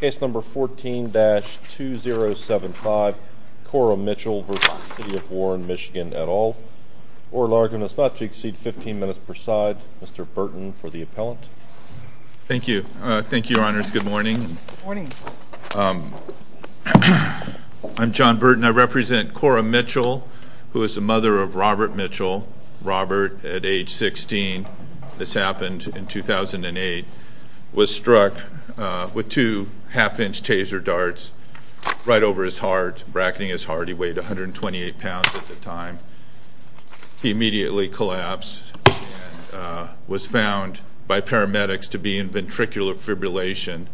Case number 14-2075, Cora Mitchell v. City of Warren, Michigan et al. Oral argument is not to exceed 15 minutes per side. Mr. Burton for the appellant. Thank you. Thank you, Your Honors. Good morning. I'm John Burton. I represent Cora Mitchell, who is the mother of Robert Mitchell, Robert at age 16. This happened in 2008. He was struck with two half-inch taser darts right over his heart, bracketing his heart. He weighed 128 pounds at the time. He immediately collapsed and was found by paramedics to be in ventricular fibrillation.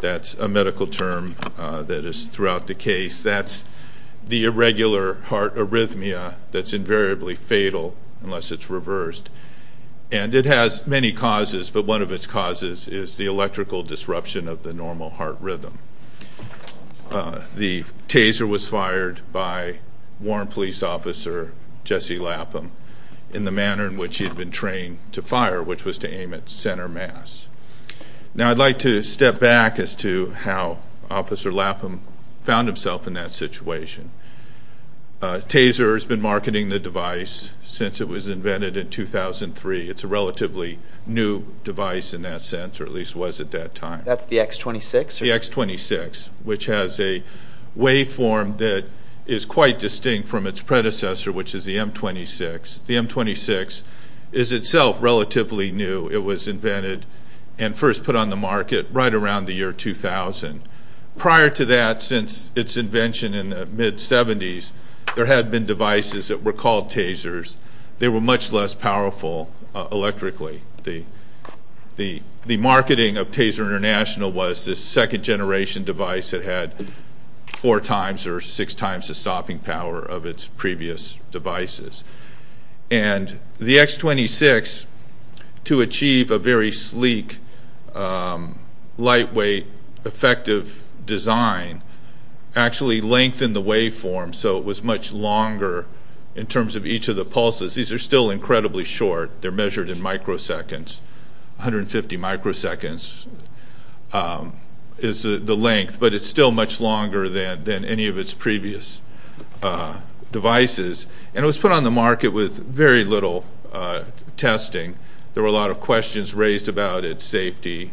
That's a medical term that is throughout the case. That's the irregular heart arrhythmia that's invariably fatal unless it's reversed. And it has many causes, but one of its causes is the electrical disruption of the normal heart rhythm. The taser was fired by Warren Police Officer Jesse Lapham in the manner in which he had been trained to fire, which was to aim at center mass. Now I'd like to step back as to how Officer Lapham found himself in that situation. Taser has been marketing the device since it was invented in 2003. It's a relatively new device in that sense, or at least was at that time. That's the X26? The X26, which has a waveform that is quite distinct from its predecessor, which is the M26. The M26 is itself relatively new. It was invented and first put on the market right around the year 2000. Prior to that, since its invention in the mid-'70s, there had been devices that were called tasers. They were much less powerful electrically. The marketing of Taser International was this second generation device that had four times or six times the stopping power of its previous devices. And the X26, to achieve a very sleek, lightweight, effective design, actually lengthened the waveform so it was much longer in terms of each of the pulses. These are still incredibly short. They're measured in microseconds, 150 microseconds is the length, but it's still much longer than any of its previous devices. And it was put on the market with very little testing. There were a lot of questions raised about its safety,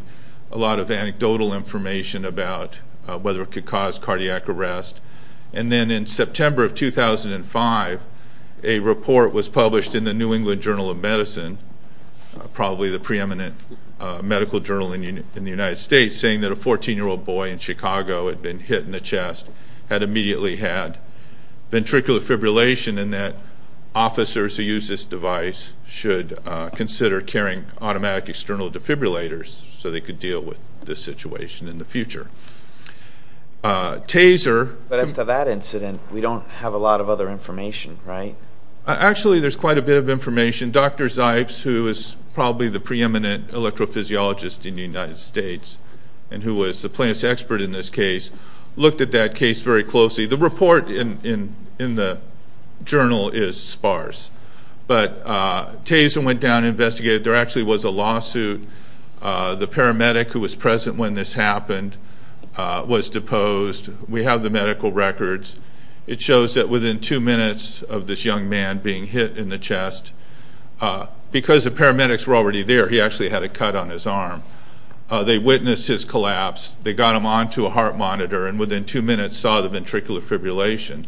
a lot of anecdotal information about whether it could cause cardiac arrest. And then in September of 2005, a report was published in the New England Journal of Medicine, probably the preeminent medical journal in the United States, saying that a 14-year-old boy in Chicago had been hit in the chest, had immediately had ventricular fibrillation, and that officers who use this device should consider carrying automatic external defibrillators so they could deal with this situation in the future. But as to that incident, we don't have a lot of other information, right? Actually, there's quite a bit of information. Dr. Zipes, who is probably the preeminent electrophysiologist in the United States and who was the plaintiff's expert in this case, looked at that case very closely. The report in the journal is sparse. But Taser went down and investigated. There actually was a lawsuit. The paramedic who was present when this happened was deposed. We have the medical records. It shows that within two minutes of this young man being hit in the chest, because the paramedics were already there, he actually had a cut on his arm. They witnessed his collapse. They got him onto a heart monitor and within two minutes saw the ventricular fibrillation.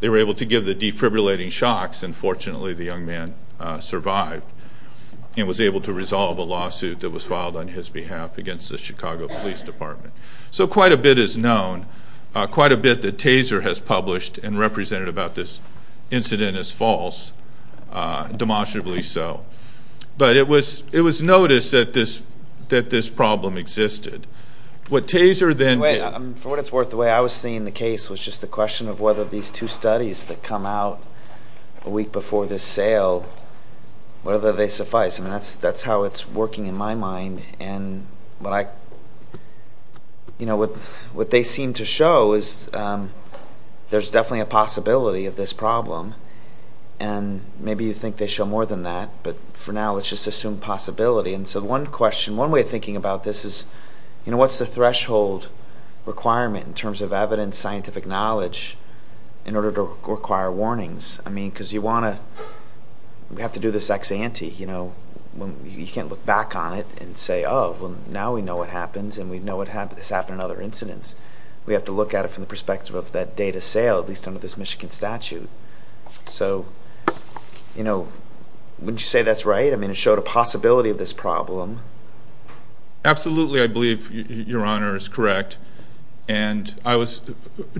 They were able to give the defibrillating shocks, and fortunately the young man survived and was able to resolve a lawsuit that was filed on his behalf against the Chicago Police Department. So quite a bit is known, quite a bit that Taser has published and represented about this incident as false, demonstrably so. But it was noticed that this problem existed. What Taser then did... For what it's worth, the way I was seeing the case was just the question of whether these two studies that come out a week before this sale, whether they suffice. That's how it's working in my mind. What they seem to show is there's definitely a possibility of this problem. Maybe you think they show more than that, but for now let's just assume possibility. So one question, one way of thinking about this is what's the threshold requirement in terms of evidence, scientific knowledge, in order to require warnings? Because you want to have to do this ex-ante. You can't look back on it and say, oh, well, now we know what happens and we know this happened in other incidents. We have to look at it from the perspective of that date of sale, at least under this Michigan statute. So wouldn't you say that's right? I mean, it showed a possibility of this problem. Absolutely, I believe Your Honor is correct. I was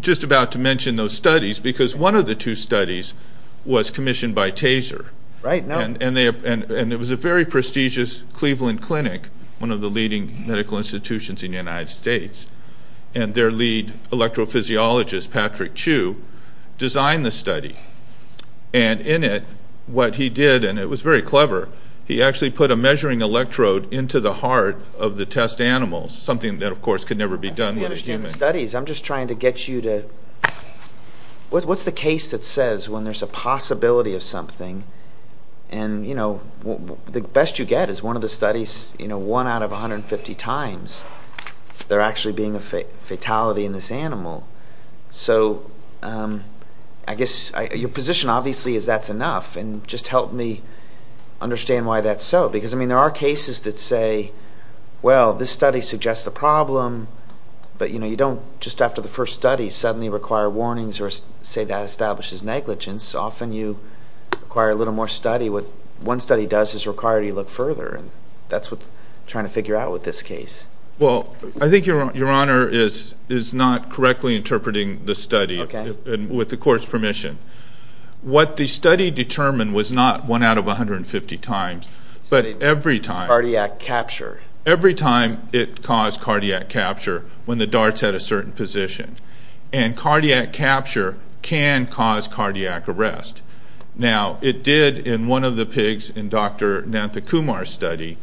just about to mention those studies because one of the two studies was commissioned by Taser. It was a very prestigious Cleveland clinic, one of the leading medical institutions in the United States, and their lead electrophysiologist, Patrick Chu, designed the study. And in it, what he did, and it was very clever, he actually put a measuring electrode into the heart of the test animal, something that, of course, could never be done with a human. I don't understand studies. I'm just trying to get you to, what's the case that says when there's a possibility of something, and the best you get is one of the studies, one out of 150 times, there actually being a fatality in this animal. So I guess your position, obviously, is that's enough. And just help me understand why that's so. Because, I mean, there are cases that say, well, this study suggests a problem, but you don't just after the first study suddenly require warnings or say that establishes negligence. Often you require a little more study. What one study does is require you to look further, and that's what I'm trying to figure out with this case. Well, I think your Honor is not correctly interpreting the study with the court's permission. What the study determined was not one out of 150 times, but every time. Cardiac capture. Every time it caused cardiac capture when the darts had a certain position. And cardiac capture can cause cardiac arrest. Now, it did in one of the pigs in Dr. Nathakumar's study.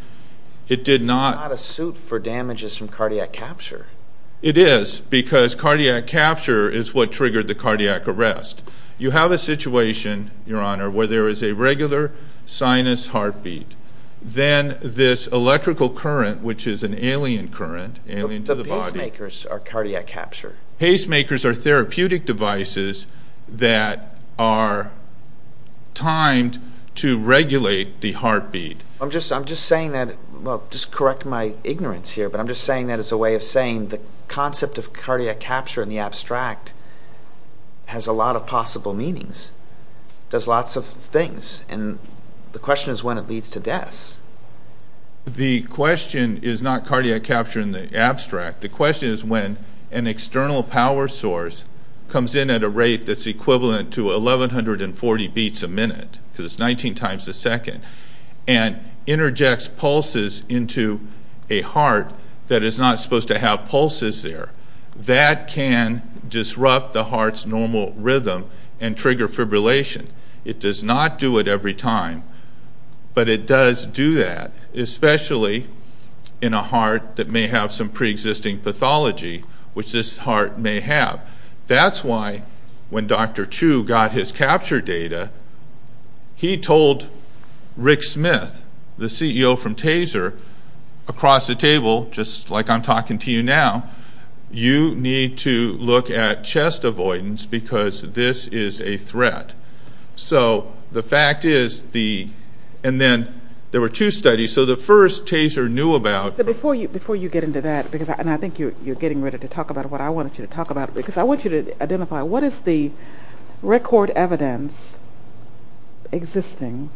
It's not a suit for damages from cardiac capture. It is, because cardiac capture is what triggered the cardiac arrest. You have a situation, your Honor, where there is a regular sinus heartbeat. Then this electrical current, which is an alien current, alien to the body. The pacemakers are cardiac capture. Pacemakers are therapeutic devices that are timed to regulate the heartbeat. I'm just saying that, well, just correct my ignorance here, but I'm just saying that as a way of saying the concept of cardiac capture in the abstract has a lot of possible meanings. It does lots of things, and the question is when it leads to deaths. The question is not cardiac capture in the abstract. The question is when an external power source comes in at a rate that's equivalent to 1140 beats a minute, because it's 19 times a second, and interjects pulses into a heart that is not supposed to have pulses there. That can disrupt the heart's normal rhythm and trigger fibrillation. It does not do it every time, but it does do that, especially in a heart that may have some preexisting pathology, which this heart may have. That's why when Dr. Chu got his capture data, he told Rick Smith, the CEO from TASER, across the table, just like I'm talking to you now, you need to look at chest avoidance because this is a threat. So the fact is, and then there were two studies. So the first TASER knew about... Before you get into that, because I think you're getting ready to talk about what I want you to talk about, because I want you to identify what is the record evidence existing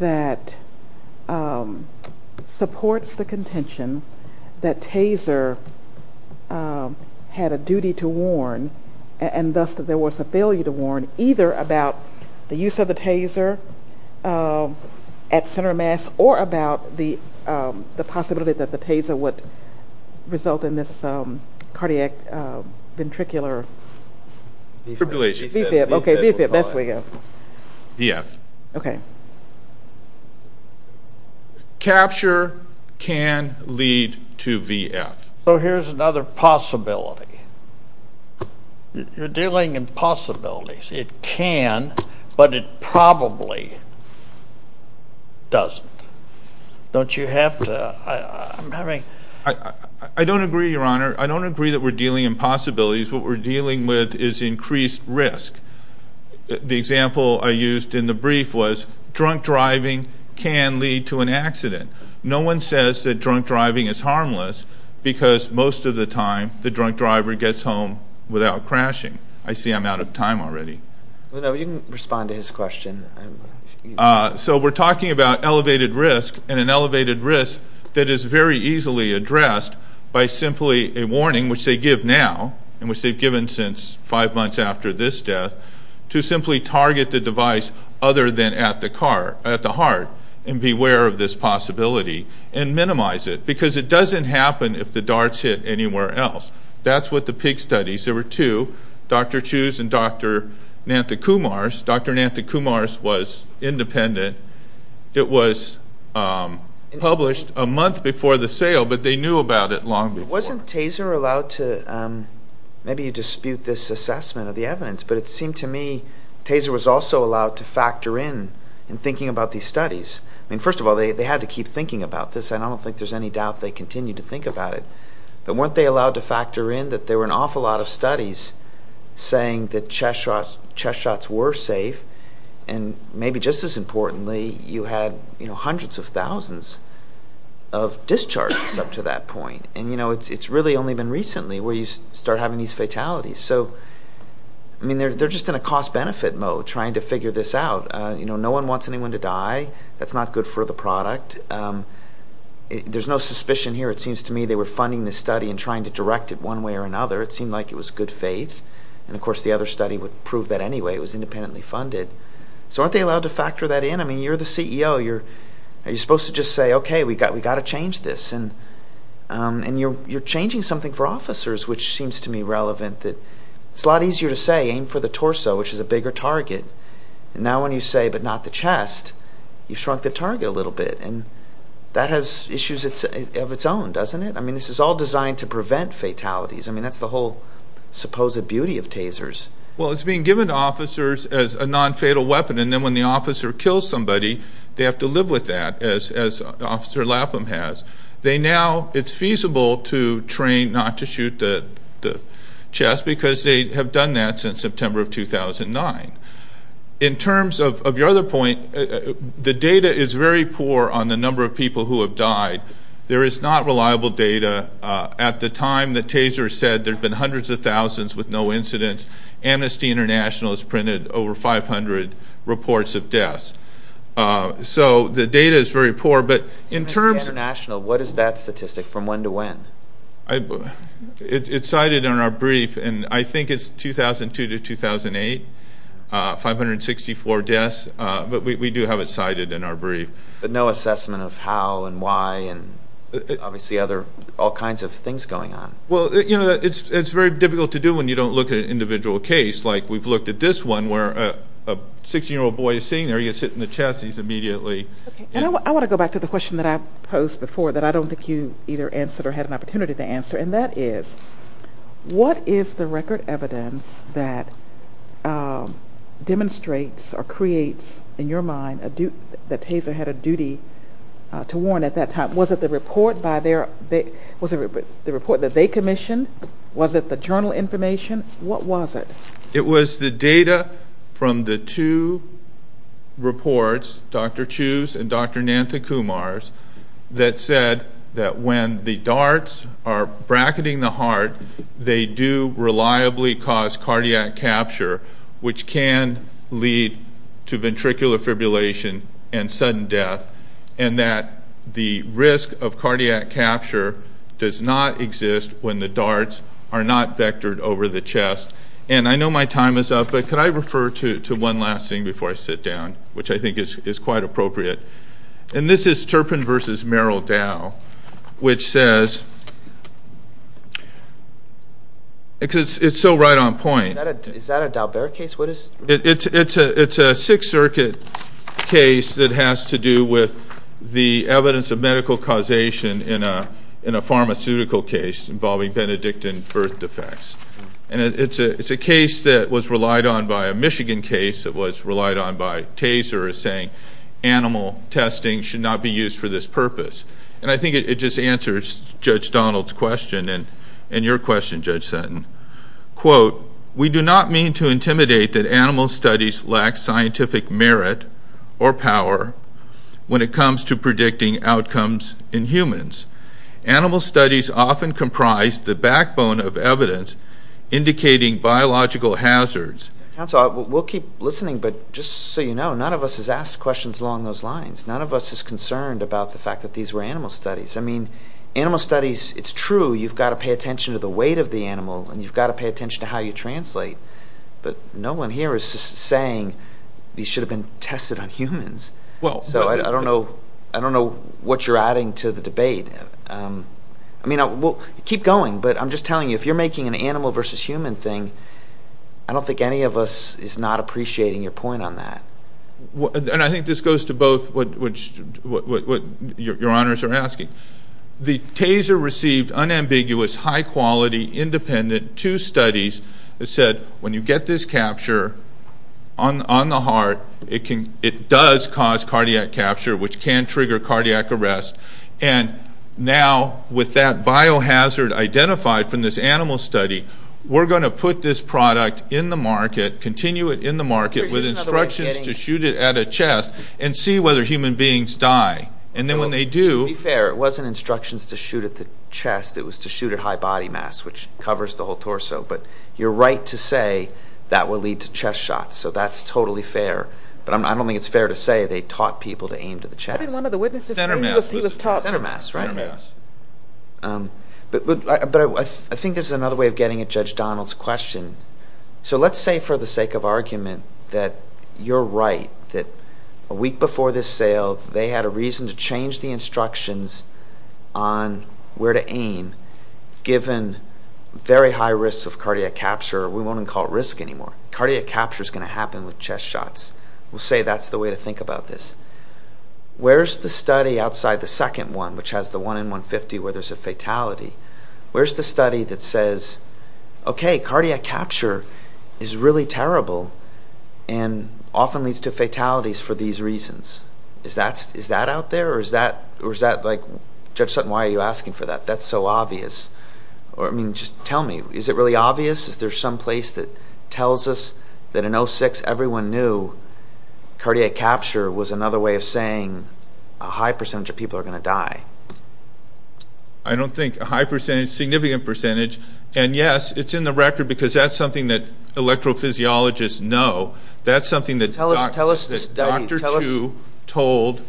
that supports the contention that TASER had a duty to warn, and thus that there was a failure to warn either about the use of the TASER at center mass, or about the possibility that the TASER would result in this cardiac ventricular... Fibrillation. V-fib. V-fib. Okay, V-fib. That's where we go. VF. Okay. Capture can lead to VF. So here's another possibility. You're dealing in possibilities. It can, but it probably doesn't. Don't you have to... I don't agree, Your Honor. I don't agree that we're dealing in possibilities. What we're dealing with is increased risk. The example I used in the brief was drunk driving can lead to an accident. No one says that drunk driving is harmless because most of the time the drunk driver gets home without crashing. I see I'm out of time already. No, you can respond to his question. So we're talking about elevated risk, and an elevated risk that is very easily addressed by simply a warning, which they give now, and which they've given since five months after this death, to simply target the device other than at the heart and beware of this possibility, and minimize it because it doesn't happen if the darts hit anywhere else. That's what the PIG studies. There were two, Dr. Chu's and Dr. Nantha-Kumar's. Dr. Nantha-Kumar's was independent. It was published a month before the sale, but they knew about it long before. Wasn't Taser allowed to... Maybe you dispute this assessment of the evidence, but it seemed to me Taser was also allowed to factor in in thinking about these studies. First of all, they had to keep thinking about this, and I don't think there's any doubt they continued to think about it. But weren't they allowed to factor in that there were an awful lot of studies saying that chest shots were safe, and maybe just as importantly, you had hundreds of thousands of discharges up to that point. It's really only been recently where you start having these fatalities. They're just in a cost-benefit mode trying to figure this out. No one wants anyone to die. That's not good for the product. There's no suspicion here. It seems to me they were funding this study and trying to direct it one way or another. It seemed like it was good faith. Of course, the other study would prove that anyway. It was independently funded. So aren't they allowed to factor that in? You're the CEO. Are you supposed to just say, okay, we've got to change this? You're changing something for officers, which seems to me relevant. It's a lot easier to say, aim for the torso, which is a bigger target. Now when you say, but not the chest, you've shrunk the target a little bit. That has issues of its own, doesn't it? This is all designed to prevent fatalities. That's the whole supposed beauty of tasers. Well, it's being given to officers as a non-fatal weapon, and then when the officer kills somebody, they have to live with that, as Officer Lapham has. It's feasible to train not to shoot the chest because they have done that since September of 2009. In terms of your other point, the data is very poor on the number of people who have died. There is not reliable data. At the time the taser said there had been hundreds of thousands with no incidents, Amnesty International has printed over 500 reports of deaths. So the data is very poor. Amnesty International, what is that statistic from when to when? It's cited in our brief, and I think it's 2002 to 2008, 564 deaths. But we do have it cited in our brief. But no assessment of how and why and obviously all kinds of things going on. Well, it's very difficult to do when you don't look at an individual case, like we've looked at this one where a 16-year-old boy is sitting there. He gets hit in the chest and he's immediately. Okay, and I want to go back to the question that I posed before that I don't think you either answered or had an opportunity to answer, and that is, what is the record evidence that demonstrates or creates in your mind that the taser had a duty to warn at that time? Was it the report that they commissioned? Was it the journal information? What was it? It was the data from the two reports, Dr. Chu's and Dr. Nanta Kumar's, that said that when the darts are bracketing the heart, they do reliably cause cardiac capture, which can lead to ventricular fibrillation and sudden death, and that the risk of cardiac capture does not exist when the darts are not vectored over the chest. And I know my time is up, but could I refer to one last thing before I sit down, which I think is quite appropriate? And this is Turpin v. Merrill Dow, which says, because it's so right on point. Is that a Dow-Bear case? It's a Sixth Circuit case that has to do with the evidence of medical causation in a pharmaceutical case involving Benedictine birth defects. And it's a case that was relied on by a Michigan case that was relied on by Taser, saying animal testing should not be used for this purpose. And I think it just answers Judge Donald's question and your question, Judge Sutton. Quote, we do not mean to intimidate that animal studies lack scientific merit or power when it comes to predicting outcomes in humans. Animal studies often comprise the backbone of evidence indicating biological hazards. Counsel, we'll keep listening, but just so you know, none of us has asked questions along those lines. None of us is concerned about the fact that these were animal studies. I mean, animal studies, it's true, you've got to pay attention to the weight of the animal and you've got to pay attention to how you translate. But no one here is saying these should have been tested on humans. So I don't know what you're adding to the debate. I mean, keep going, but I'm just telling you, if you're making an animal versus human thing, I don't think any of us is not appreciating your point on that. And I think this goes to both what your honors are asking. The Taser received unambiguous, high-quality, independent two studies that said when you get this capture on the heart, it does cause cardiac capture, which can trigger cardiac arrest. And now, with that biohazard identified from this animal study, we're going to put this product in the market, continue it in the market, with instructions to shoot it at a chest and see whether human beings die. Be fair, it wasn't instructions to shoot at the chest, it was to shoot at high body mass, which covers the whole torso. But you're right to say that will lead to chest shots, so that's totally fair. But I don't think it's fair to say they taught people to aim to the chest. One of the witnesses said he was taught that. Center mass, right? Center mass. But I think this is another way of getting at Judge Donald's question. So let's say for the sake of argument that you're right, that a week before this sale, they had a reason to change the instructions on where to aim, given very high risks of cardiac capture. We won't even call it risk anymore. Cardiac capture is going to happen with chest shots. We'll say that's the way to think about this. Where's the study outside the second one, which has the 1 in 150 where there's a fatality? Where's the study that says, okay, cardiac capture is really terrible and often leads to fatalities for these reasons? Is that out there? Or is that, like, Judge Sutton, why are you asking for that? That's so obvious. I mean, just tell me. Is it really obvious? Is there some place that tells us that in 06 everyone knew cardiac capture was another way of saying a high percentage of people are going to die? I don't think a high percentage, significant percentage. And, yes, it's in the record because that's something that electrophysiologists know. That's something that Dr. Chu told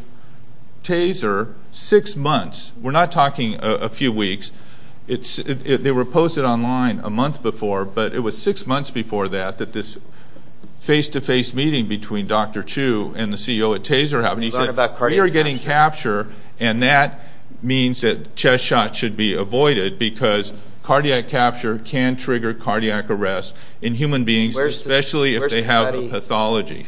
Taser six months. We're not talking a few weeks. They were posted online a month before, but it was six months before that that this face-to-face meeting between Dr. Chu and the CEO at Taser happened. He said, we are getting capture, and that means that chest shots should be avoided because cardiac capture can trigger cardiac arrest in human beings, especially if they have a pathology.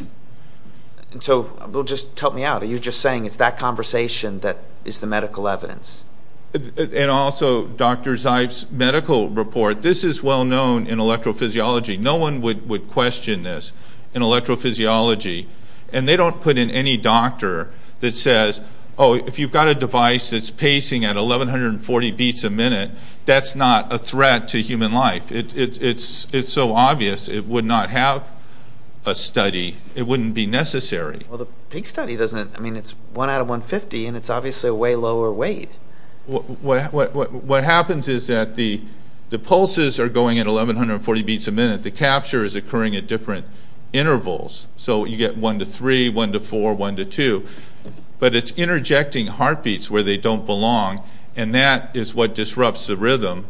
So just help me out. Are you just saying it's that conversation that is the medical evidence? And also, Dr. Zeib's medical report, this is well-known in electrophysiology. No one would question this in electrophysiology, and they don't put in any doctor that says, oh, if you've got a device that's pacing at 1140 beats a minute, that's not a threat to human life. It's so obvious it would not have a study. It wouldn't be necessary. Well, the pig study doesn't. I mean, it's 1 out of 150, and it's obviously a way lower weight. What happens is that the pulses are going at 1140 beats a minute. The capture is occurring at different intervals. So you get 1 to 3, 1 to 4, 1 to 2. But it's interjecting heartbeats where they don't belong, and that is what disrupts the rhythm,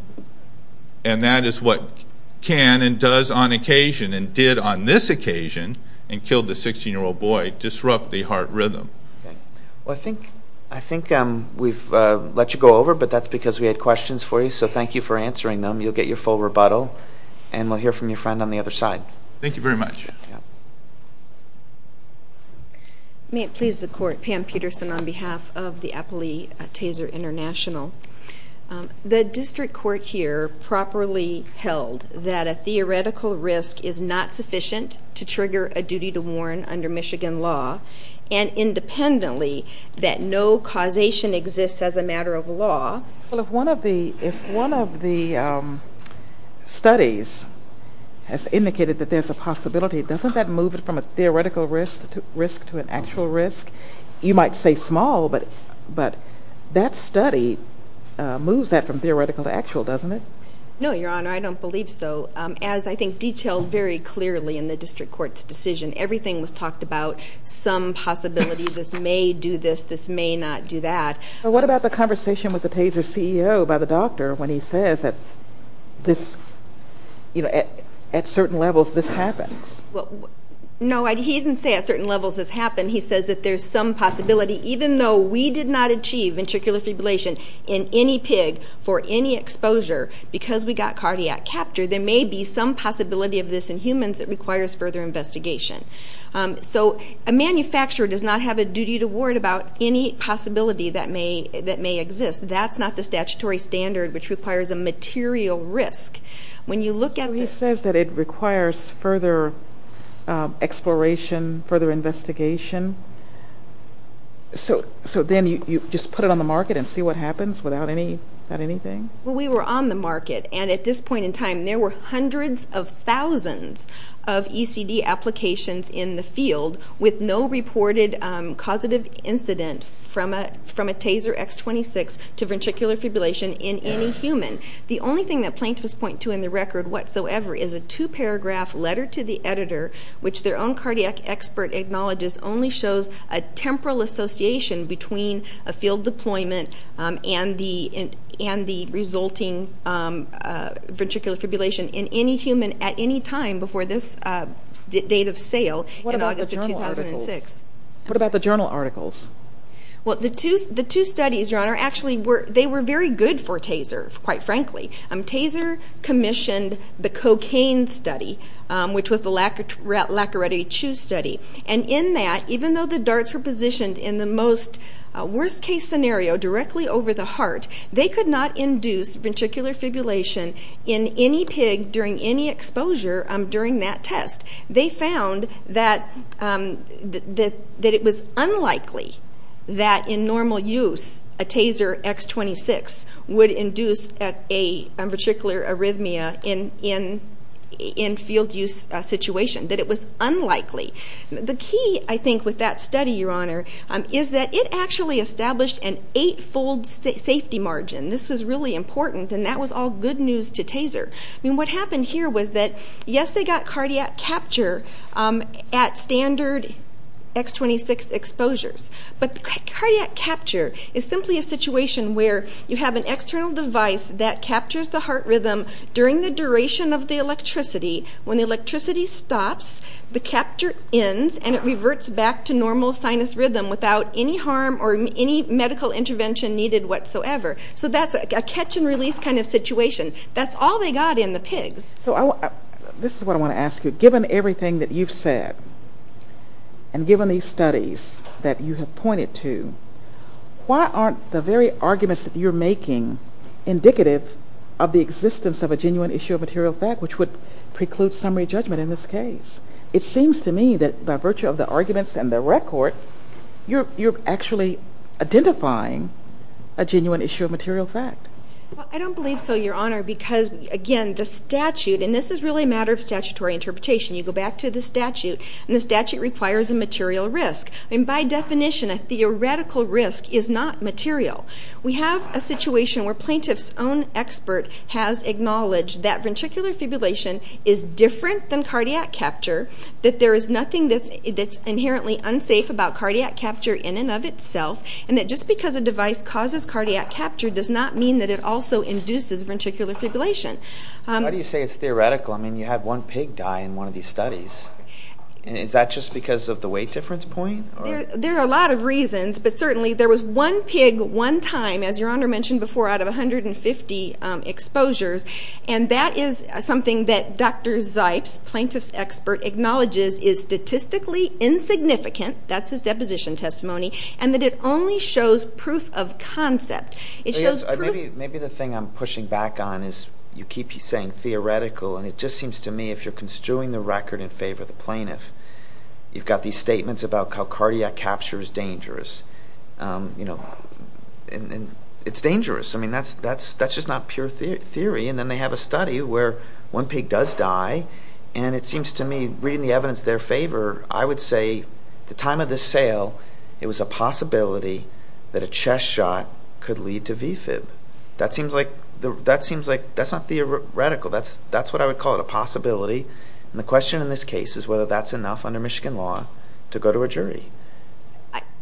and that is what can and does on occasion and did on this occasion and killed the 16-year-old boy disrupt the heart rhythm. Well, I think we've let you go over, but that's because we had questions for you. So thank you for answering them. You'll get your full rebuttal, and we'll hear from your friend on the other side. Thank you very much. May it please the Court. Pam Peterson on behalf of the Appley Taser International. The district court here properly held that a theoretical risk is not sufficient to trigger a duty to warn under Michigan law, and independently that no causation exists as a matter of law. Well, if one of the studies has indicated that there's a possibility, doesn't that move it from a theoretical risk to an actual risk? You might say small, but that study moves that from theoretical to actual, doesn't it? No, Your Honor, I don't believe so. As I think detailed very clearly in the district court's decision, everything was talked about, some possibility this may do this, this may not do that. What about the conversation with the Taser CEO by the doctor when he says that at certain levels this happens? No, he didn't say at certain levels this happened. He says that there's some possibility, even though we did not achieve ventricular fibrillation in any pig for any exposure, because we got cardiac capture, there may be some possibility of this in humans that requires further investigation. So a manufacturer does not have a duty to warn about any possibility that may exist. That's not the statutory standard, which requires a material risk. So he says that it requires further exploration, further investigation. So then you just put it on the market and see what happens without anything? Well, we were on the market, and at this point in time, there were hundreds of thousands of ECD applications in the field with no reported causative incident from a Taser X26 to ventricular fibrillation in any human. The only thing that plaintiffs point to in the record whatsoever is a two-paragraph letter to the editor, which their own cardiac expert acknowledges only shows a temporal association between a field deployment and the resulting ventricular fibrillation in any human at any time before this date of sale in August of 2006. What about the journal articles? Well, the two studies, Your Honor, actually, they were very good for Taser, quite frankly. Taser commissioned the cocaine study, which was the Lacqueretti-Chu study. And in that, even though the darts were positioned in the most worst-case scenario, directly over the heart, they could not induce ventricular fibrillation in any pig during any exposure during that test. They found that it was unlikely that in normal use, a Taser X26 would induce a ventricular arrhythmia in a field-use situation, that it was unlikely. The key, I think, with that study, Your Honor, is that it actually established an eight-fold safety margin. This was really important, and that was all good news to Taser. I mean, what happened here was that, yes, they got cardiac capture at standard X26 exposures, but cardiac capture is simply a situation where you have an external device that captures the heart rhythm during the duration of the electricity. When the electricity stops, the capture ends, and it reverts back to normal sinus rhythm without any harm or any medical intervention needed whatsoever. So that's a catch-and-release kind of situation. That's all they got in the pigs. So this is what I want to ask you. Given everything that you've said and given these studies that you have pointed to, why aren't the very arguments that you're making indicative of the existence of a genuine issue of material fact, which would preclude summary judgment in this case? It seems to me that by virtue of the arguments and the record, you're actually identifying a genuine issue of material fact. I don't believe so, Your Honor, because, again, the statute, and this is really a matter of statutory interpretation. You go back to the statute, and the statute requires a material risk. By definition, a theoretical risk is not material. We have a situation where plaintiff's own expert has acknowledged that ventricular fibrillation is different than cardiac capture, that there is nothing that's inherently unsafe about cardiac capture in and of itself, and that just because a device causes cardiac capture does not mean that it also induces ventricular fibrillation. Why do you say it's theoretical? I mean, you had one pig die in one of these studies. Is that just because of the weight difference point? There are a lot of reasons, but certainly there was one pig one time, as Your Honor mentioned before, out of 150 exposures, and that is something that Dr. Zipes, plaintiff's expert, acknowledges is statistically insignificant, that's his deposition testimony, and that it only shows proof of concept. Maybe the thing I'm pushing back on is you keep saying theoretical, and it just seems to me if you're construing the record in favor of the plaintiff, you've got these statements about how cardiac capture is dangerous. It's dangerous. I mean, that's just not pure theory, and then they have a study where one pig does die, and it seems to me, reading the evidence in their favor, I would say at the time of this sale, it was a possibility that a chest shot could lead to V-fib. That seems like that's not theoretical. That's what I would call a possibility, and the question in this case is whether that's enough under Michigan law to go to a jury.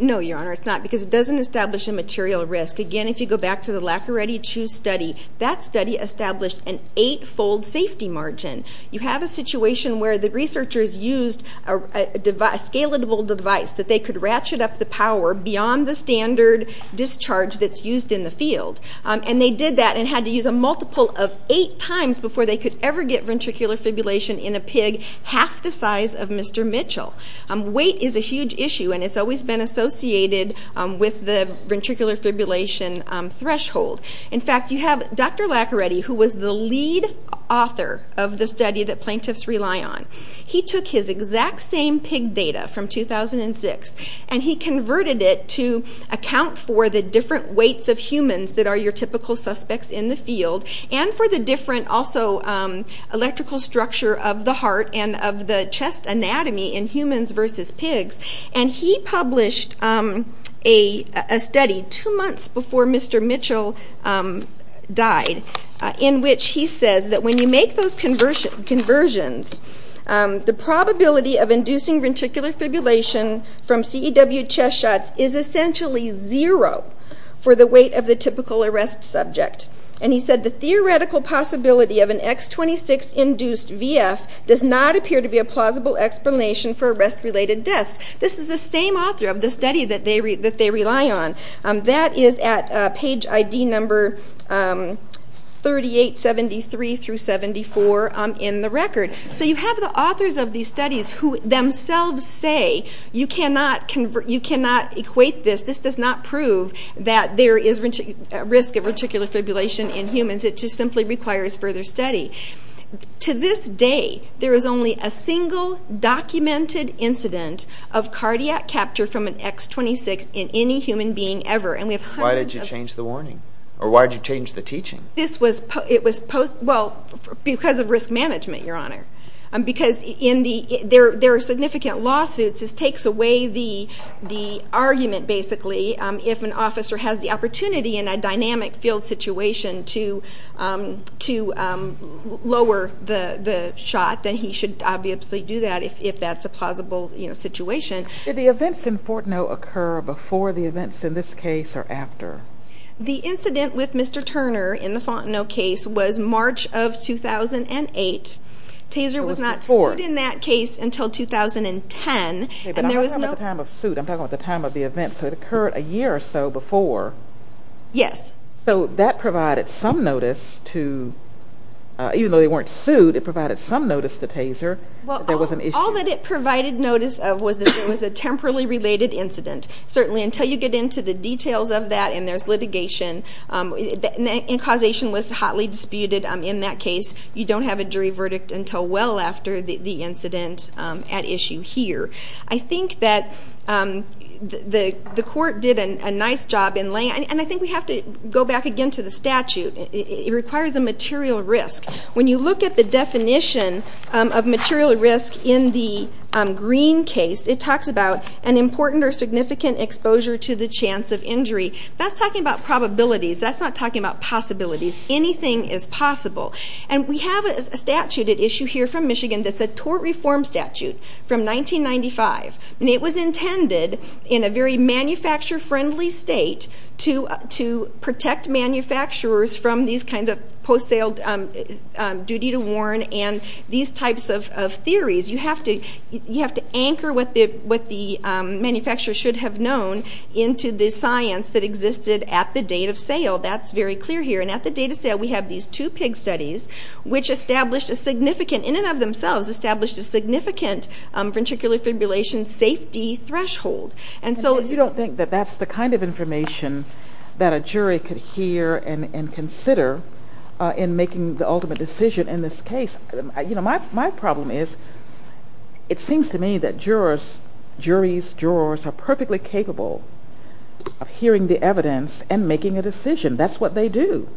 No, Your Honor, it's not because it doesn't establish a material risk. Again, if you go back to the Lacqueretti 2 study, that study established an eight-fold safety margin. You have a situation where the researchers used a scalable device that they could ratchet up the power beyond the standard discharge that's used in the field, and they did that and had to use a multiple of eight times before they could ever get ventricular fibrillation in a pig half the size of Mr. Mitchell. Weight is a huge issue, and it's always been associated with the ventricular fibrillation threshold. In fact, you have Dr. Lacqueretti, who was the lead author of the study that plaintiffs rely on. He took his exact same pig data from 2006, and he converted it to account for the different weights of humans that are your typical suspects in the field, and for the different electrical structure of the heart and of the chest anatomy in humans versus pigs. And he published a study two months before Mr. Mitchell died, in which he says that when you make those conversions, the probability of inducing ventricular fibrillation from CEW chest shots is essentially zero for the weight of the typical arrest subject. And he said the theoretical possibility of an X26-induced VF does not appear to be a plausible explanation for arrest-related deaths. This is the same author of the study that they rely on. That is at page ID number 3873-74 in the record. So you have the authors of these studies who themselves say, you cannot equate this. This does not prove that there is a risk of ventricular fibrillation in humans. It just simply requires further study. To this day, there is only a single documented incident of cardiac capture from an X26 in any human being ever. Why did you change the warning? Or why did you change the teaching? It was because of risk management, Your Honor. Because there are significant lawsuits, this takes away the argument, basically, if an officer has the opportunity in a dynamic field situation to lower the shot, then he should obviously do that if that's a plausible situation. Did the events in Fontenot occur before the events in this case or after? The incident with Mr. Turner in the Fontenot case was March of 2008. Taser was not sued in that case until 2010. But I'm talking about the time of suit. I'm talking about the time of the event. So it occurred a year or so before. Yes. So that provided some notice to, even though they weren't sued, it provided some notice to Taser that there was an issue. All that it provided notice of was that it was a temporally related incident. Certainly, until you get into the details of that and there's litigation, and causation was hotly disputed in that case, you don't have a jury verdict until well after the incident at issue here. I think that the court did a nice job in laying – and I think we have to go back again to the statute. It requires a material risk. When you look at the definition of material risk in the Green case, it talks about an important or significant exposure to the chance of injury. That's talking about probabilities. That's not talking about possibilities. Anything is possible. And we have a statute at issue here from Michigan that's a tort reform statute from 1995. And it was intended in a very manufacturer-friendly state to protect manufacturers from these kinds of post-sale duty to warn and these types of theories. You have to anchor what the manufacturer should have known into the science that existed at the date of sale. That's very clear here. And at the date of sale, we have these two pig studies, which established a significant – in and of themselves established a significant ventricular fibrillation safety threshold. And so you don't think that that's the kind of information that a jury could hear and consider in making the ultimate decision in this case. My problem is it seems to me that jurors, juries, jurors, are perfectly capable of hearing the evidence and making a decision. That's what they do.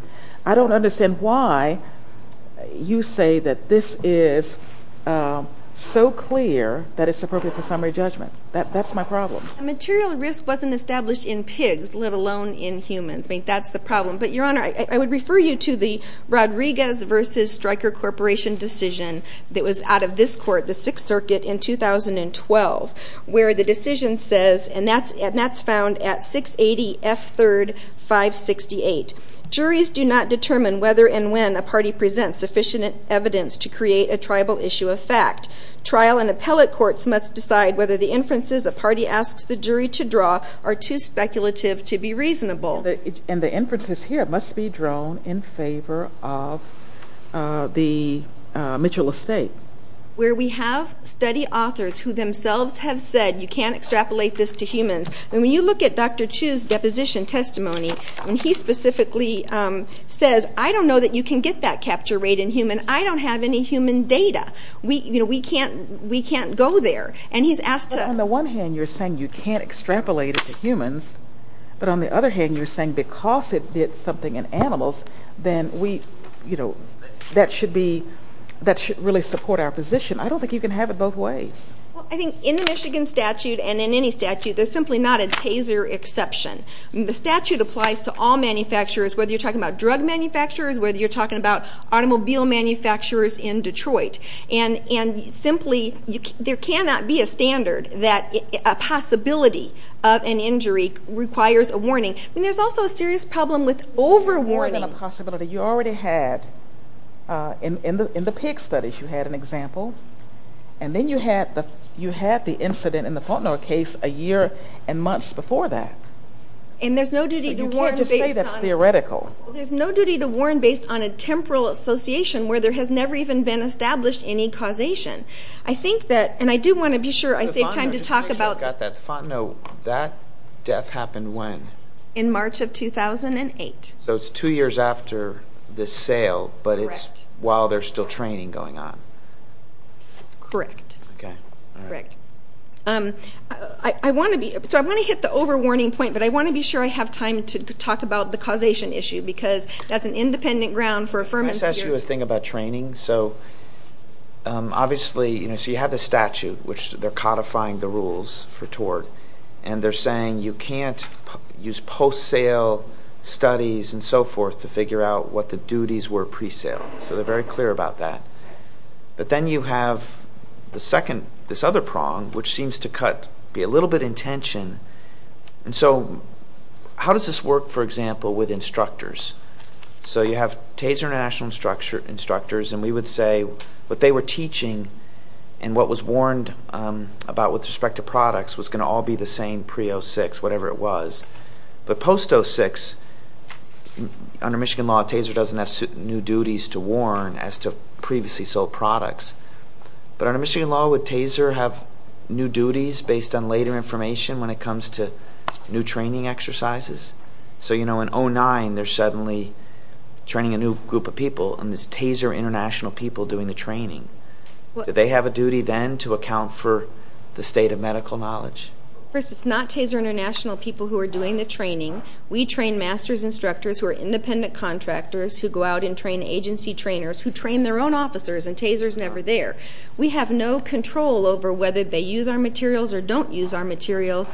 I don't understand why you say that this is so clear that it's appropriate for summary judgment. That's my problem. Material risk wasn't established in pigs, let alone in humans. I mean, that's the problem. But, Your Honor, I would refer you to the Rodriguez v. Stryker Corporation decision that was out of this court, the Sixth Circuit, in 2012, where the decision says, and that's found at 680 F. 3rd. 568, juries do not determine whether and when a party presents sufficient evidence to create a tribal issue of fact. Trial and appellate courts must decide whether the inferences a party asks the jury to draw are too speculative to be reasonable. And the inferences here must be drawn in favor of the Mitchell estate. Where we have study authors who themselves have said, you can't extrapolate this to humans. And when you look at Dr. Chu's deposition testimony, when he specifically says, I don't know that you can get that capture rate in humans. I don't have any human data. We can't go there. But on the one hand, you're saying you can't extrapolate it to humans. But on the other hand, you're saying because it did something in animals, then that should really support our position. I don't think you can have it both ways. I think in the Michigan statute, and in any statute, there's simply not a taser exception. The statute applies to all manufacturers, whether you're talking about drug manufacturers, whether you're talking about automobile manufacturers in Detroit. And simply, there cannot be a standard that a possibility of an injury requires a warning. There's also a serious problem with over-warnings. More than a possibility. You already had, in the pig studies, you had an example. And then you had the incident in the Faulkner case a year and months before that. You can't just say that's theoretical. There's no duty to warn based on a temporal association where there has never even been established any causation. I think that, and I do want to be sure I save time to talk about that. No, that death happened when? In March of 2008. So it's two years after the sale, but it's while there's still training going on. Correct. So I want to hit the over-warning point, but I want to be sure I have time to talk about the causation issue because that's an independent ground for affirmance here. Can I ask you a thing about training? So you have the statute, which they're codifying the rules for tort, and they're saying you can't use post-sale studies and so forth to figure out what the duties were pre-sale. So they're very clear about that. But then you have this other prong, which seems to be a little bit in tension. So how does this work, for example, with instructors? So you have TASER National Instructors, and we would say what they were teaching and what was warned about with respect to products was going to all be the same pre-06, whatever it was. But post-06, under Michigan law, TASER doesn't have new duties to warn as to previously sold products. But under Michigan law, would TASER have new duties based on later information when it comes to new training exercises? So in 09, they're suddenly training a new group of people, and it's TASER International people doing the training. Do they have a duty then to account for the state of medical knowledge? First, it's not TASER International people who are doing the training. We train master's instructors who are independent contractors who go out and train agency trainers who train their own officers, and TASER is never there. We have no control over whether they use our materials or don't use our materials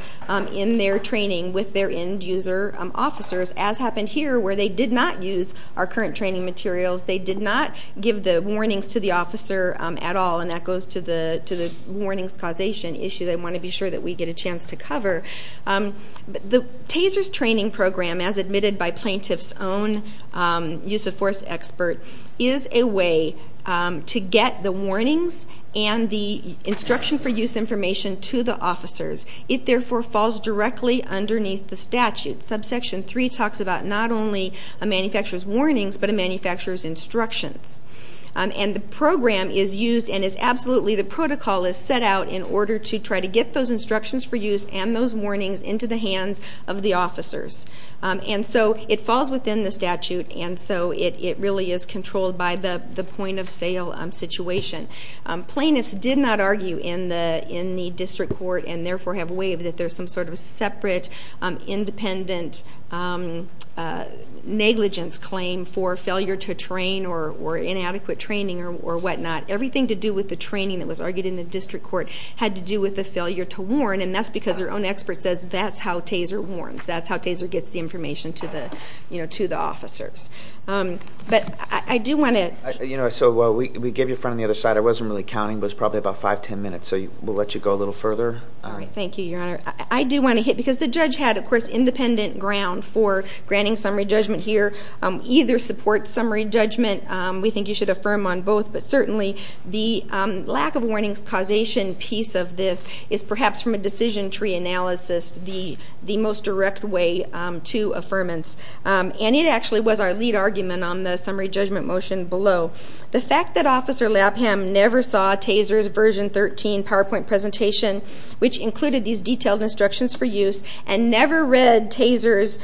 in their training with their end-user officers, as happened here where they did not use our current training materials. They did not give the warnings to the officer at all, and that goes to the warnings causation issue that I want to be sure that we get a chance to cover. The TASER's training program, as admitted by plaintiff's own use-of-force expert, is a way to get the warnings and the instruction-for-use information to the officers. It, therefore, falls directly underneath the statute. Subsection 3 talks about not only a manufacturer's warnings but a manufacturer's instructions. And the program is used and is absolutely the protocol is set out in order to try to get those instructions for use and those warnings into the hands of the officers. And so it falls within the statute, and so it really is controlled by the point-of-sale situation. Plaintiffs did not argue in the district court and, therefore, have waived that there's some sort of separate, independent negligence claim for failure to train or inadequate training or whatnot. Everything to do with the training that was argued in the district court had to do with the failure to warn, and that's because their own expert says that's how TASER warns. That's how TASER gets the information to the officers. But I do want to... So we gave you a front on the other side. I wasn't really counting, but it's probably about 5, 10 minutes, so we'll let you go a little further. All right. Thank you, Your Honor. I do want to hit, because the judge had, of course, independent ground for granting summary judgment here. Either supports summary judgment. We think you should affirm on both. But certainly the lack-of-warnings causation piece of this is perhaps from a decision tree analysis the most direct way to affirmance. And it actually was our lead argument on the summary judgment motion below. The fact that Officer Lapham never saw TASER's version 13 PowerPoint presentation, which included these detailed instructions for use, and never read TASER's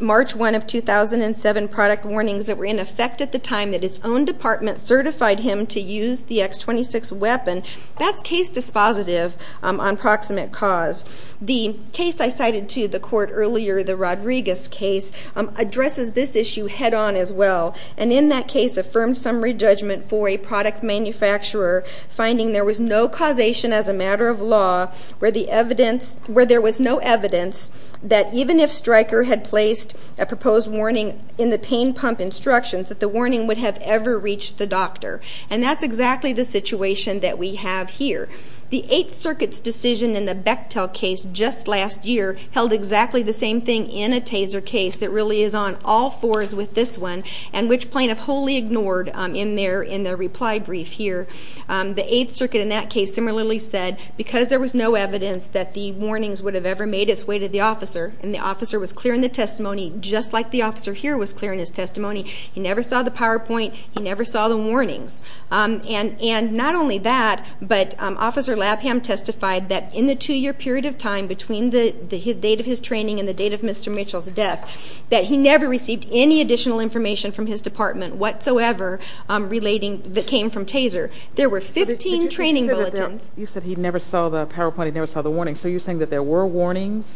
March 1 of 2007 product warnings that were in effect at the time that his own department certified him to use the X26 weapon, that's case dispositive on proximate cause. The case I cited to the court earlier, the Rodriguez case, addresses this issue head-on as well. And in that case, affirmed summary judgment for a product manufacturer finding there was no causation as a matter of law where there was no evidence that even if Stryker had placed a proposed warning in the pain pump instructions, that the warning would have ever reached the doctor. And that's exactly the situation that we have here. The Eighth Circuit's decision in the Bechtel case just last year held exactly the same thing in a TASER case. It really is on all fours with this one, and which plaintiff wholly ignored in their reply brief here. The Eighth Circuit in that case similarly said, because there was no evidence that the warnings would have ever made its way to the officer, and the officer was clear in the testimony, just like the officer here was clear in his testimony, he never saw the PowerPoint, he never saw the warnings. And not only that, but Officer Labham testified that in the two-year period of time between the date of his training and the date of Mr. Mitchell's death, that he never received any additional information from his department whatsoever that came from TASER. There were 15 training bulletins. You said he never saw the PowerPoint, he never saw the warnings. So you're saying that there were warnings?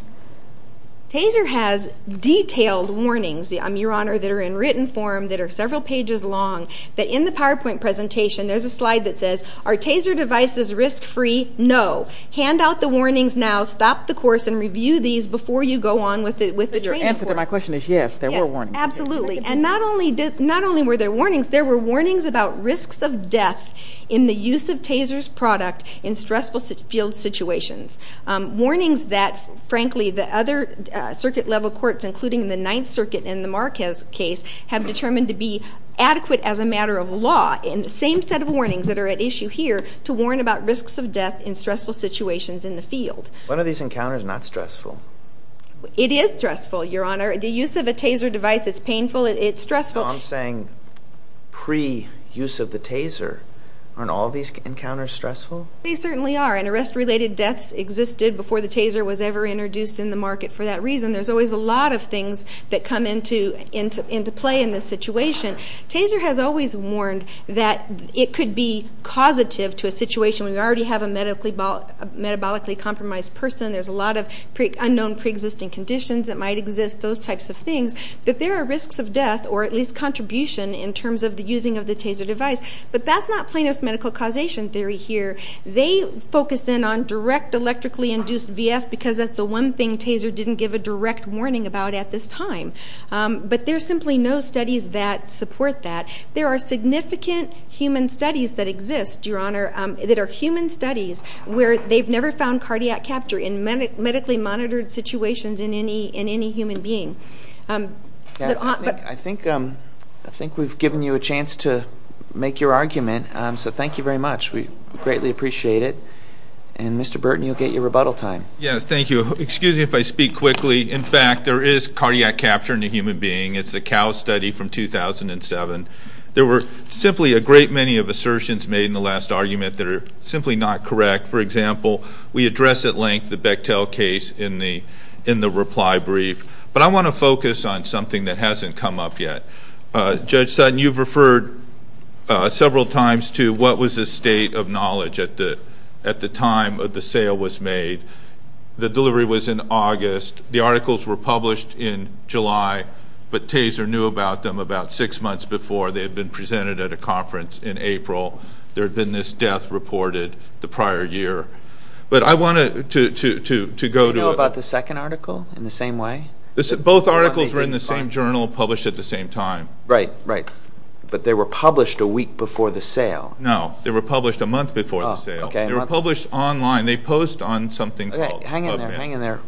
TASER has detailed warnings, Your Honor, that are in written form, that are several pages long, that in the PowerPoint presentation, there's a slide that says, are TASER devices risk-free? No. Hand out the warnings now, stop the course, and review these before you go on with the training course. But your answer to my question is yes, there were warnings. Yes, absolutely. And not only were there warnings, there were warnings about risks of death in the use of TASER's product in stressful field situations. Warnings that, frankly, the other circuit-level courts, including the Ninth Circuit in the Marquez case, have determined to be adequate as a matter of law in the same set of warnings that are at issue here to warn about risks of death in stressful situations in the field. One of these encounters is not stressful. It is stressful, Your Honor. The use of a TASER device, it's painful, it's stressful. No, I'm saying pre-use of the TASER, aren't all these encounters stressful? They certainly are, and arrest-related deaths existed before the TASER was ever introduced in the market for that reason. There's always a lot of things that come into play in this situation. TASER has always warned that it could be causative to a situation where you already have a metabolically compromised person, there's a lot of unknown pre-existing conditions that might exist, those types of things, that there are risks of death, or at least contribution in terms of the using of the TASER device. But that's not Plano's medical causation theory here. They focus in on direct electrically induced VF because that's the one thing TASER didn't give a direct warning about at this time. But there's simply no studies that support that. There are significant human studies that exist, Your Honor, that are human studies where they've never found cardiac capture in medically monitored situations in any human being. I think we've given you a chance to make your argument, so thank you very much. We greatly appreciate it. And Mr. Burton, you'll get your rebuttal time. Yes, thank you. Excuse me if I speak quickly. In fact, there is cardiac capture in a human being. It's the CAL study from 2007. There were simply a great many of assertions made in the last argument that are simply not correct. For example, we address at length the Bechtel case in the reply brief. But I want to focus on something that hasn't come up yet. Judge Sutton, you've referred several times to what was the state of knowledge at the time the sale was made. The delivery was in August. The articles were published in July, but TASER knew about them about six months before. They had been presented at a conference in April. There had been this death reported the prior year. But I wanted to go to it. Did they know about the second article in the same way? Both articles were in the same journal, published at the same time. Right, right. But they were published a week before the sale. No, they were published a month before the sale. They were published online. They post on something called PubMed. Hang in there.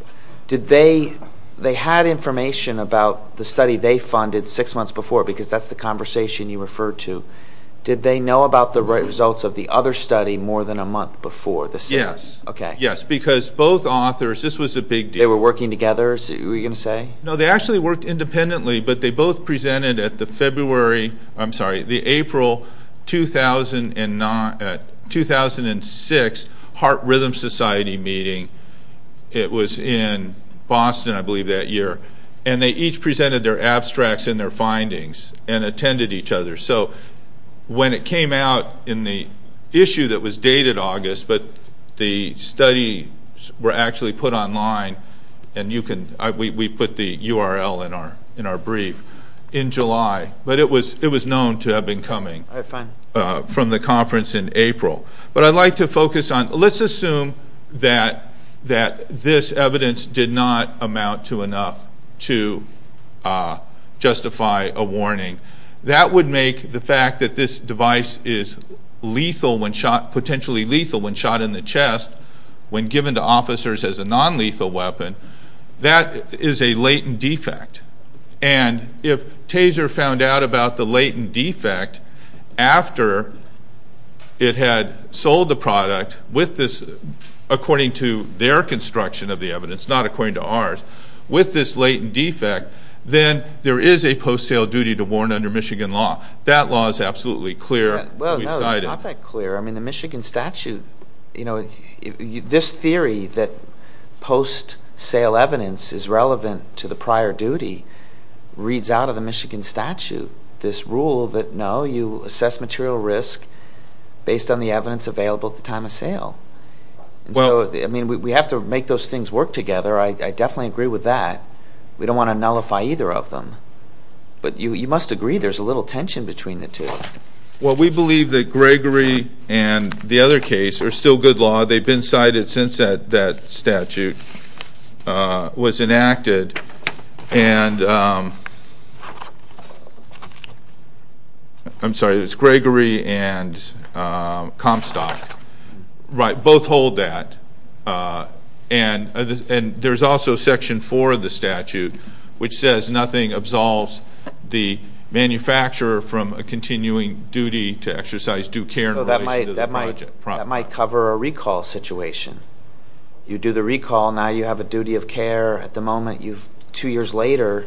They had information about the study they funded six months before, because that's the conversation you referred to. Did they know about the results of the other study more than a month before the sale? Yes. Okay. Yes, because both authors, this was a big deal. They were working together, were you going to say? No, they actually worked independently, but they both presented at the April 2006 Heart Rhythm Society meeting. It was in Boston, I believe, that year. And they each presented their abstracts and their findings and attended each other. So when it came out in the issue that was dated August, but the study were actually put online, and we put the URL in our brief, in July. But it was known to have been coming from the conference in April. But I'd like to focus on, let's assume that this evidence did not amount to enough to justify a warning. That would make the fact that this device is lethal when shot, potentially lethal when shot in the chest, when given to officers as a nonlethal weapon, that is a latent defect. And if Taser found out about the latent defect after it had sold the product with this, according to their construction of the evidence, not according to ours, with this latent defect, then there is a post-sale duty to warn under Michigan law. That law is absolutely clear. Well, no, it's not that clear. I mean, the Michigan statute, this theory that post-sale evidence is relevant to the prior duty reads out of the Michigan statute this rule that, no, you assess material risk based on the evidence available at the time of sale. And so, I mean, we have to make those things work together. I definitely agree with that. We don't want to nullify either of them. But you must agree there's a little tension between the two. Well, we believe that Gregory and the other case are still good law. They've been cited since that statute was enacted. I'm sorry, it's Gregory and Comstock. Right, both hold that. And there's also Section 4 of the statute, which says nothing absolves the manufacturer from a continuing duty to exercise due care in relation to the project. That might cover a recall situation. You do the recall, now you have a duty of care. At the moment, two years later,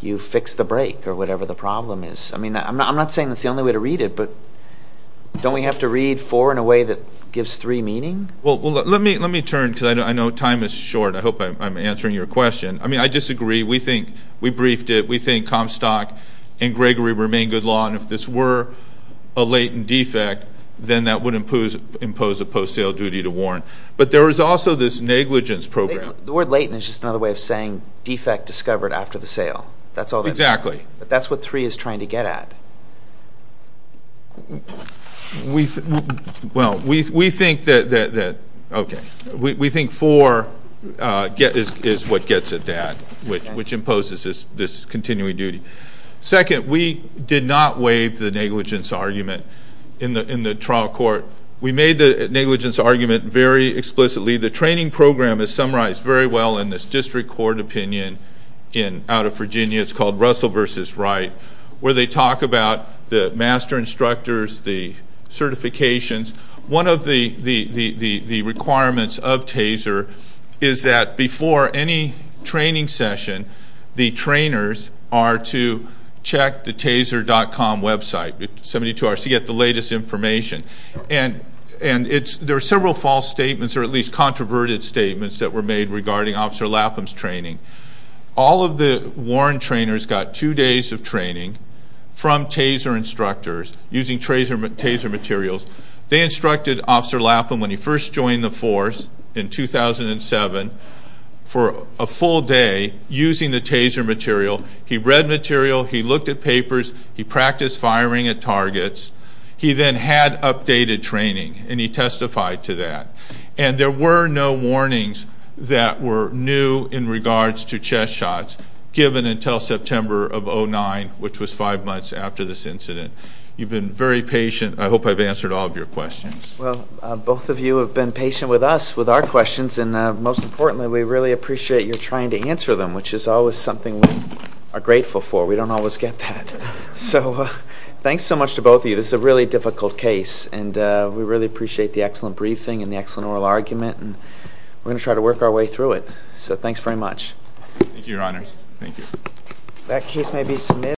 you've fixed the break or whatever the problem is. I mean, I'm not saying that's the only way to read it, but don't we have to read 4 in a way that gives 3 meaning? Well, let me turn, because I know time is short. I hope I'm answering your question. I mean, I disagree. We briefed it. We think Comstock and Gregory remain good law. And if this were a latent defect, then that would impose a post-sale duty to warrant. But there is also this negligence program. The word latent is just another way of saying defect discovered after the sale. Exactly. That's what 3 is trying to get at. We think that 4 is what gets at that, which imposes this continuing duty. Second, we did not waive the negligence argument in the trial court. We made the negligence argument very explicitly. The training program is summarized very well in this district court opinion out of Virginia. It's called Russell v. Wright, where they talk about the master instructors, the certifications. One of the requirements of TASER is that before any training session, the trainers are to check the taser.com website 72 hours to get the latest information. And there are several false statements, or at least controverted statements, that were made regarding Officer Lapham's training. All of the warrant trainers got two days of training from TASER instructors using TASER materials. They instructed Officer Lapham, when he first joined the force in 2007, for a full day using the TASER material. He read material. He looked at papers. He practiced firing at targets. He then had updated training, and he testified to that. And there were no warnings that were new in regards to chest shots, given until September of 2009, which was five months after this incident. You've been very patient. I hope I've answered all of your questions. Well, both of you have been patient with us with our questions, and most importantly, we really appreciate your trying to answer them, which is always something we are grateful for. We don't always get that. So thanks so much to both of you. This is a really difficult case, and we really appreciate the excellent briefing and the excellent oral argument, and we're going to try to work our way through it. So thanks very much. Thank you, Your Honors. Thank you.